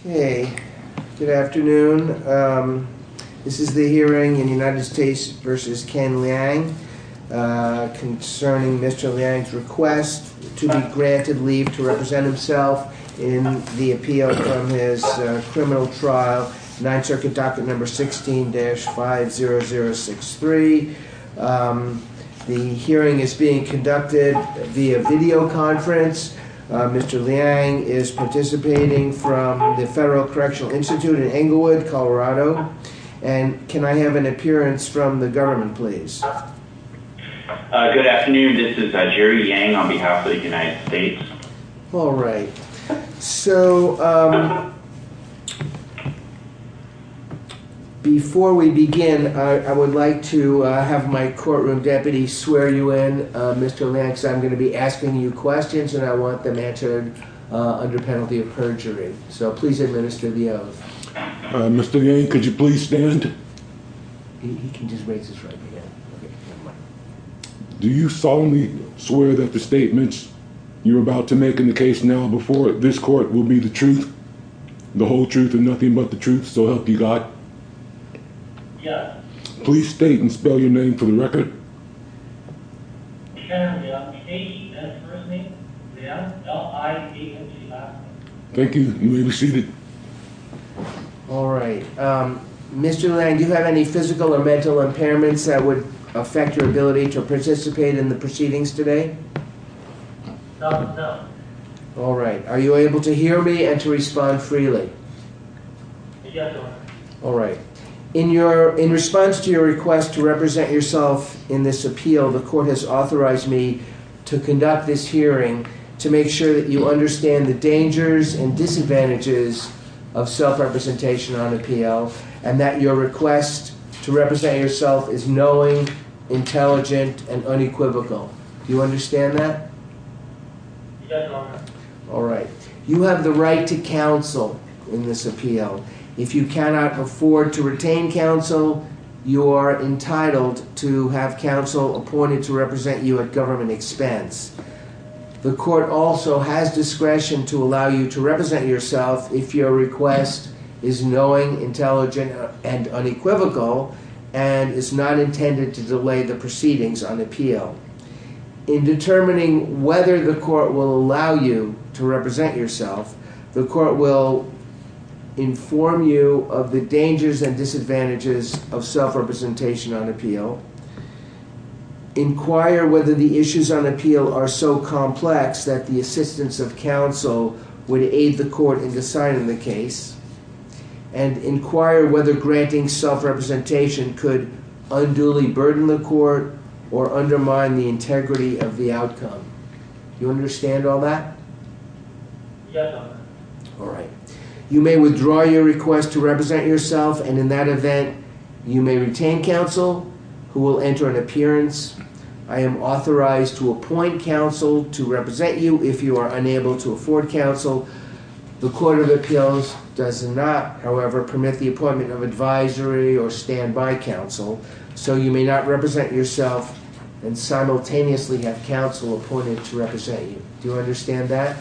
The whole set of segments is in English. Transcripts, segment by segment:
Okay, good afternoon. This is the hearing in United States v. Ken Liang concerning Mr. Liang's request to be granted leave to represent himself in the appeal from his criminal trial, 9th Circuit Docket No. 16-50063. The hearing is being conducted via videoconference. Mr. Liang is participating from the Federal Correctional Institute in Englewood, Colorado. And can I have an appearance from the government, please? Good afternoon. This is Jerry Yang on behalf of the United States. All right. So before we begin, I would like to have my courtroom deputy swear you in. Mr. Liang, I'm going to be asking you questions and I want them answered under penalty of perjury. So please administer the oath. Mr. Yang, could you please stand? He can just raise his right hand. Do you solemnly swear that the statements you're about to make in the case now before this court will be the truth, the whole truth, and nothing but the truth, so help you God? Yes. Please state and spell your name for the record. My name is Casey. That's my first name. Thank you. You may be seated. All right. Mr. Liang, do you have any physical or mental impairments that would affect your ability to participate in the proceedings today? No. All right. Are you able to hear me and to respond freely? Yes. All right. In response to your request to represent yourself in this appeal, the court has authorized me to conduct this hearing to make sure that you understand the dangers and disadvantages of self-representation on appeal and that your request to represent yourself is knowing, intelligent, and unequivocal. Do you understand that? All right. You have the right to counsel in this appeal. If you cannot afford to retain counsel, you are entitled to have counsel appointed to represent you at government expense. The court also has discretion to allow you to represent yourself if your request is knowing, intelligent, and unequivocal and is not intended to delay the proceedings on appeal. In determining whether the court will allow you to represent yourself, the court will inform you of the dangers and disadvantages of self-representation on appeal, inquire whether the issues on appeal are so complex that the assistance of counsel would aid the court in deciding the case, and inquire whether granting self-representation could unduly burden the court or undermine the integrity of the outcome. Do you understand all that? All right. You may withdraw your request to represent yourself, and in that event, you may retain counsel who will enter an appearance. I am authorized to appoint counsel to represent you if you are unable to afford counsel. The court of appeals does not, however, permit the appointment of advisory or standby counsel, so you may not represent yourself and simultaneously have counsel appointed to represent you. Do you understand that?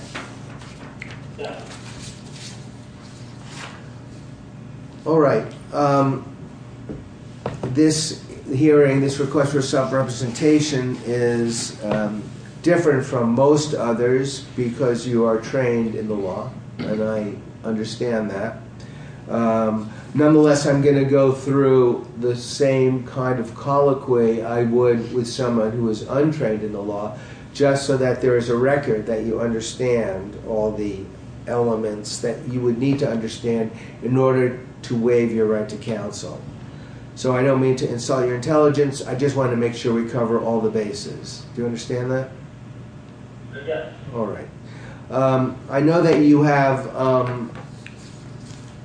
All right. This hearing, this request for self-representation is different from most others because you are trained in the law, and I understand that. Nonetheless, I'm going to go through the same kind of colloquy I would with someone who is untrained in the law, just so that there is a record that you understand all the elements that you would need to understand in order to waive your right to counsel. So I don't mean to insult your intelligence. I just want to make sure we cover all the bases. Do you understand that? Yes. All right. I know that you have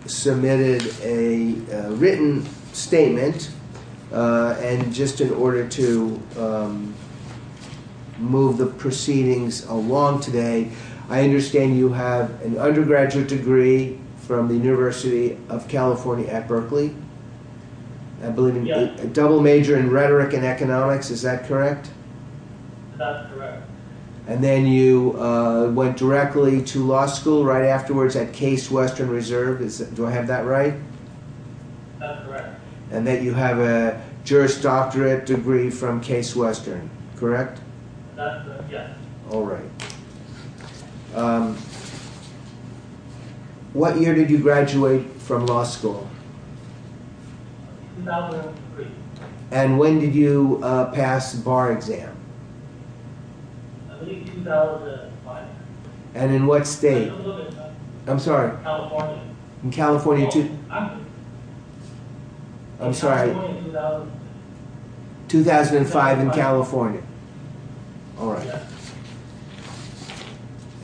submitted a written statement, and just in order to move the proceedings along today, I understand you have an undergraduate degree from the University of California at Berkeley? Yes. A double major in rhetoric and economics. Is that correct? That's correct. And then you went directly to law school right afterwards at Case Western Reserve. Do I have that right? That's correct. And then you have a juris doctorate degree from Case Western, correct? That's correct, yes. All right. What year did you graduate from law school? 2003. And when did you pass the bar exam? I believe 2005. And in what state? California. I'm sorry. California. I'm sorry. 2005 in California. All right.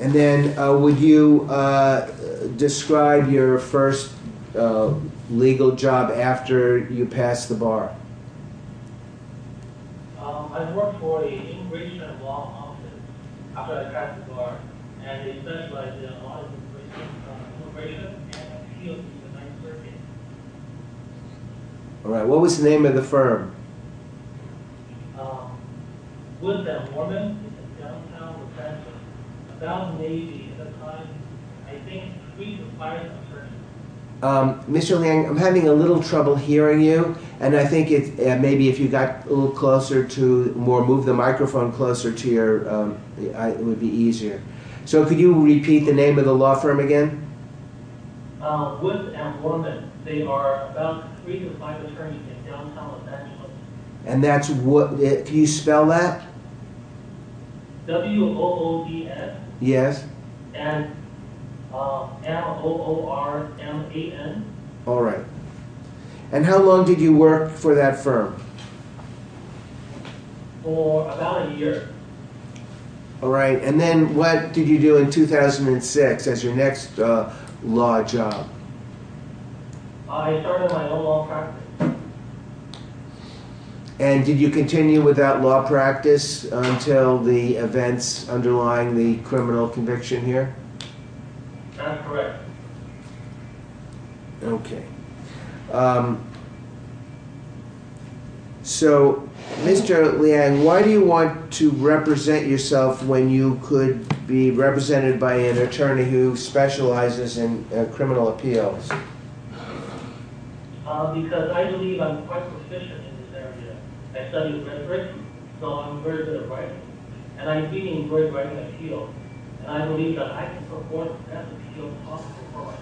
And then would you describe your first legal job after you passed the bar? I worked for the Immigration and Law Office after I passed the bar, and they specialized in immigration and appeals to the 9th Circuit. All right. What was the name of the firm? Wood and Worman. It's a downtown offensive. About 80 at the time. I think three to five attorneys. Mr. Liang, I'm having a little trouble hearing you, and I think maybe if you got a little closer to, or moved the microphone closer to your, it would be easier. So could you repeat the name of the law firm again? Wood and Worman. They are about three to five attorneys in downtown Los Angeles. W-O-O-D-N. And M-O-O-R-M-A-N. For about a year. I started my own law practice. That's correct. Because I believe I'm quite proficient in this area. I studied immigration, so I'm very good at writing. And I'm really good at writing appeals, and I believe that I can perform the best appeals possible for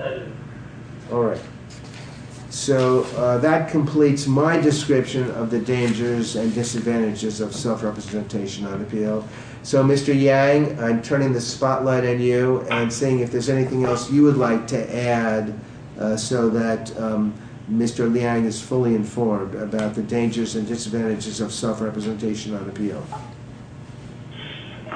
myself. Thank you. Yes, certainly. Thank you. Yes. Yes. Yes. Yes, I do. Yes. Yes. Yes. Yes, I do. Yes. Yes. Yes, I do. Yes. Yes. Yes, I do. Yes, I do. Yes, I do. Yes,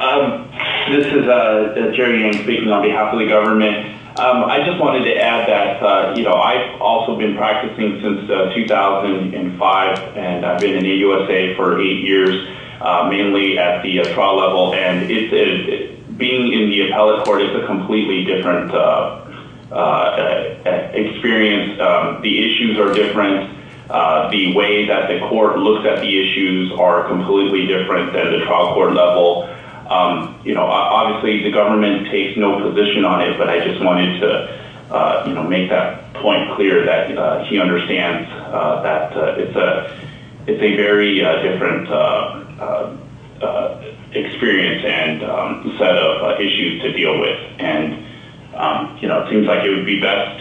I do. This is Jerry Yang speaking on behalf of the government. I just wanted to add that I've also been practicing since 2005, and I've been in the USA for eight years, mainly at the trial level. And being in the appellate court is a completely different experience. The issues are different. The way that the court looks at the issues are completely different than at the trial court level. Obviously, the government takes no position on it, but I just wanted to make that point clear that he understands that it's a very different experience and set of issues to deal with. And it seems like it would be best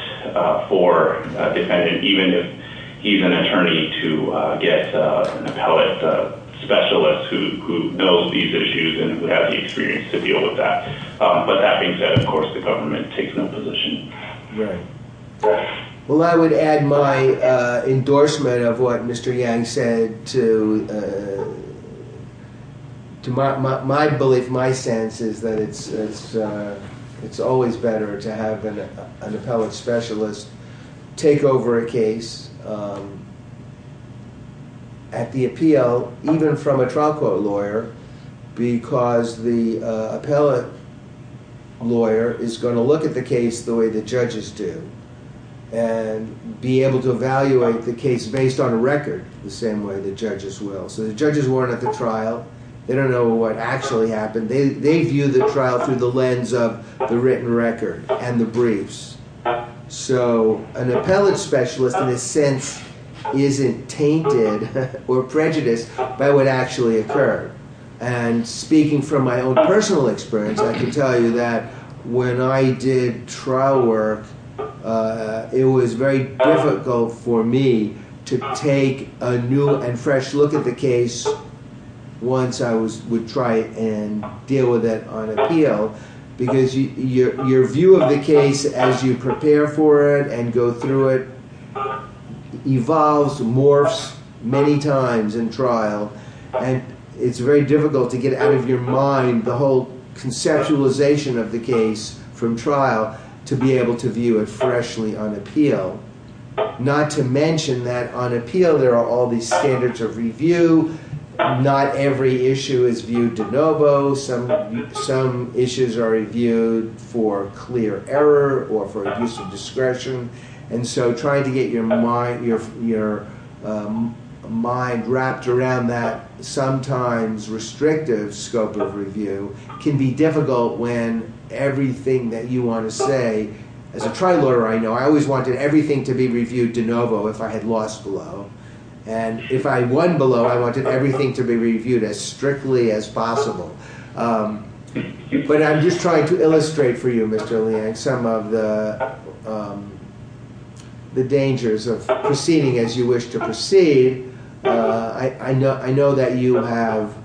for a defendant, even if he's an attorney, to get an appellate specialist who knows these issues and who has the experience to deal with that. But that being said, of course, the government takes no position. Right. Well, I would add my endorsement of what Mr. Yang said to my belief, my sense is that it's always better to have an appellate specialist take over a case at the appeal, even from a trial court lawyer, because the appellate lawyer is going to look at the case the way the judges do and be able to evaluate the case based on a record the same way the judges will. So the judges weren't at the trial. They don't know what actually happened. They view the trial through the lens of the written record and the briefs. So an appellate specialist, in a sense, isn't tainted or prejudiced by what actually occurred. And speaking from my own personal experience, I can tell you that when I did trial work, it was very difficult for me to take a new and fresh look at the case once I would try and deal with it on appeal, because your view of the case as you prepare for it and go through it evolves, morphs many times in trial. And it's very difficult to get out of your mind the whole conceptualization of the case from trial to be able to view it freshly on appeal. Not to mention that on appeal, there are all these standards of review. Not every issue is viewed de novo. Some issues are reviewed for clear error or for abuse of discretion. And so trying to get your mind wrapped around that sometimes restrictive scope of review can be difficult when everything that you want to say— I wanted everything to be reviewed de novo if I had lost below. And if I won below, I wanted everything to be reviewed as strictly as possible. But I'm just trying to illustrate for you, Mr. Liang, some of the dangers of proceeding as you wish to proceed. I know that you have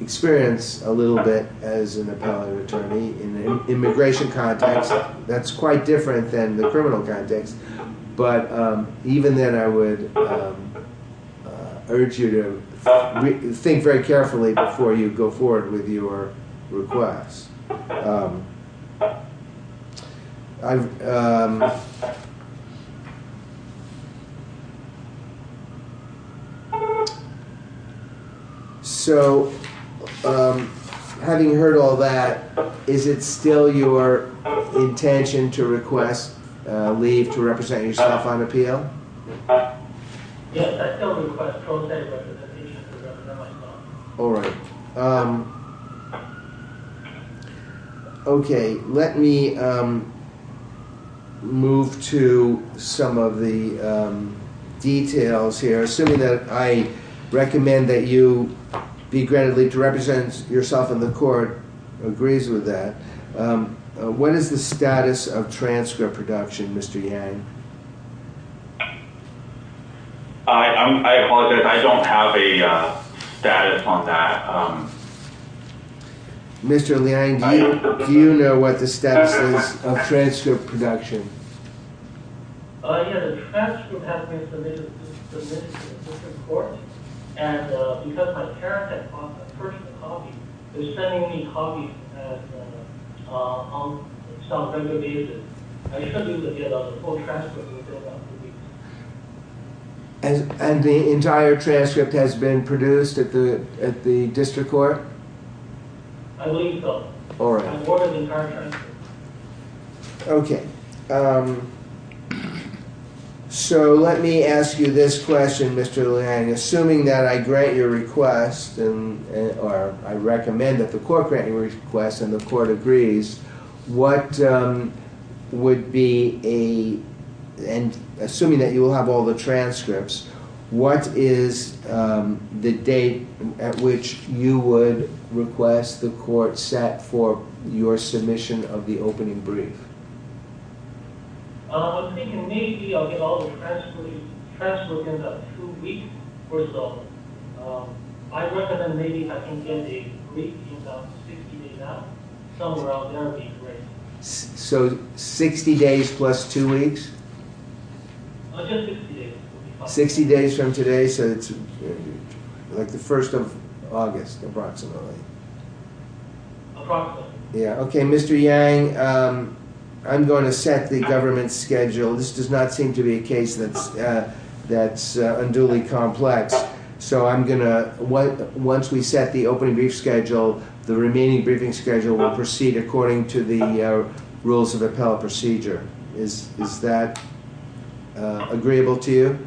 experience a little bit as an appellate attorney in the immigration context. That's quite different than the criminal context. But even then, I would urge you to think very carefully before you go forward with your request. So, having heard all that, is it still your intention to request leave to represent yourself on appeal? Yes, I still request pro se representation to represent myself. All right. Okay, let me move to some of the details here. Assuming that I recommend that you be granted leave to represent yourself in the court, agrees with that. What is the status of transcript production, Mr. Yang? I apologize. I don't have a status on that. Mr. Liang, do you know what the status is of transcript production? Yes, the transcript has been submitted to the Supreme Court. And because my parent had bought my personal copy, they're sending me copies on some regular basis. I just don't know the details of the full transcript. And the entire transcript has been produced at the district court? I believe so. I've ordered the entire transcript. Okay. So, let me ask you this question, Mr. Liang. Assuming that I grant your request, or I recommend that the court grant your request and the court agrees, what would be a, and assuming that you will have all the transcripts, what is the date at which you would request the court set for your submission of the opening brief? I'm thinking maybe I'll get all the transcripts in about two weeks or so. I recommend maybe I can get a brief in about 60 days now, somewhere around there would be great. So, 60 days plus two weeks? Just 60 days. 60 days from today, so it's like the first of August, approximately. Approximately. Okay, Mr. Liang, I'm going to set the government schedule. This does not seem to be a case that's unduly complex, so I'm going to, once we set the opening brief schedule, the remaining briefing schedule will proceed according to the rules of appellate procedure. Is that agreeable to you?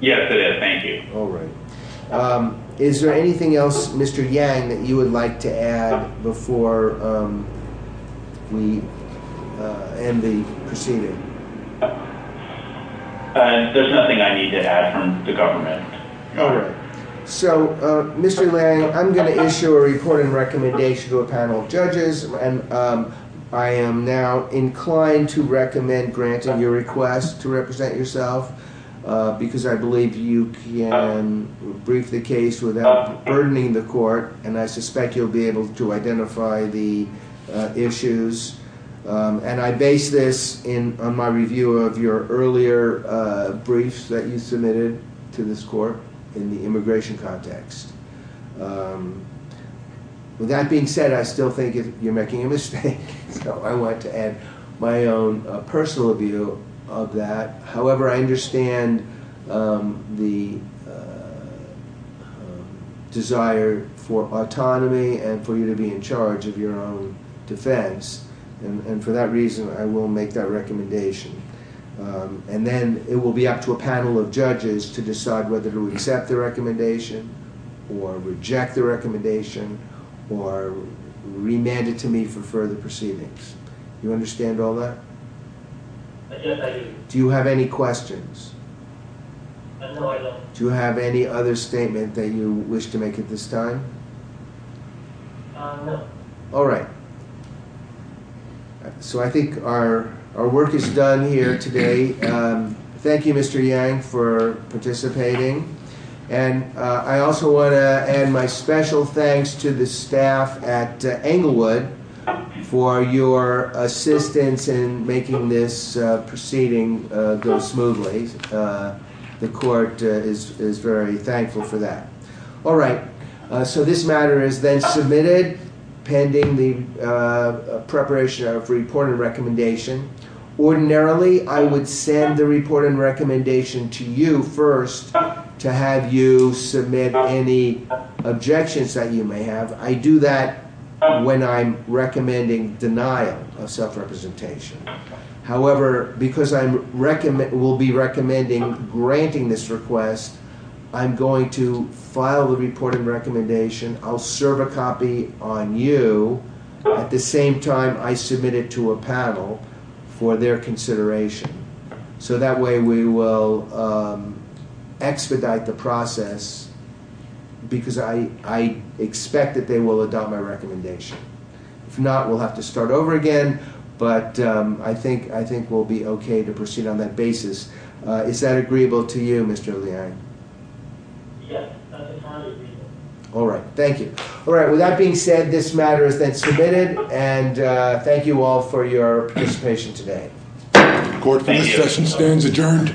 Yes, it is. Thank you. All right. Is there anything else, Mr. Yang, that you would like to add before we end the proceeding? There's nothing I need to add from the government. All right. So, Mr. Liang, I'm going to issue a report and recommendation to a panel of judges, and I am now inclined to recommend granting your request to represent yourself, because I believe you can brief the case without burdening the court, and I suspect you'll be able to identify the issues. And I base this on my review of your earlier briefs that you submitted to this court in the immigration context. With that being said, I still think you're making a mistake, so I want to add my own personal view of that. However, I understand the desire for autonomy and for you to be in charge of your own defense, and for that reason, I will make that recommendation. And then it will be up to a panel of judges to decide whether to accept the recommendation, or reject the recommendation, or remand it to me for further proceedings. Do you understand all that? Yes, I do. Do you have any questions? No, I don't. Do you have any other statement that you wish to make at this time? No. All right. So I think our work is done here today. Thank you, Mr. Yang, for participating. And I also want to add my special thanks to the staff at Englewood for your assistance in making this proceeding go smoothly. The court is very thankful for that. All right. So this matter is then submitted pending the preparation of report and recommendation. Ordinarily, I would send the report and recommendation to you first to have you submit any objections that you may have. I do that when I'm recommending denial of self-representation. However, because I will be recommending granting this request, I'm going to file the report and recommendation. I'll serve a copy on you at the same time I submit it to a panel for their consideration. So that way we will expedite the process because I expect that they will adopt my recommendation. If not, we'll have to start over again. But I think we'll be okay to proceed on that basis. Is that agreeable to you, Mr. Yang? Yes, that's entirely agreeable. All right. Thank you. All right. With that being said, this matter is then submitted. And thank you all for your participation today. The court for this session stands adjourned.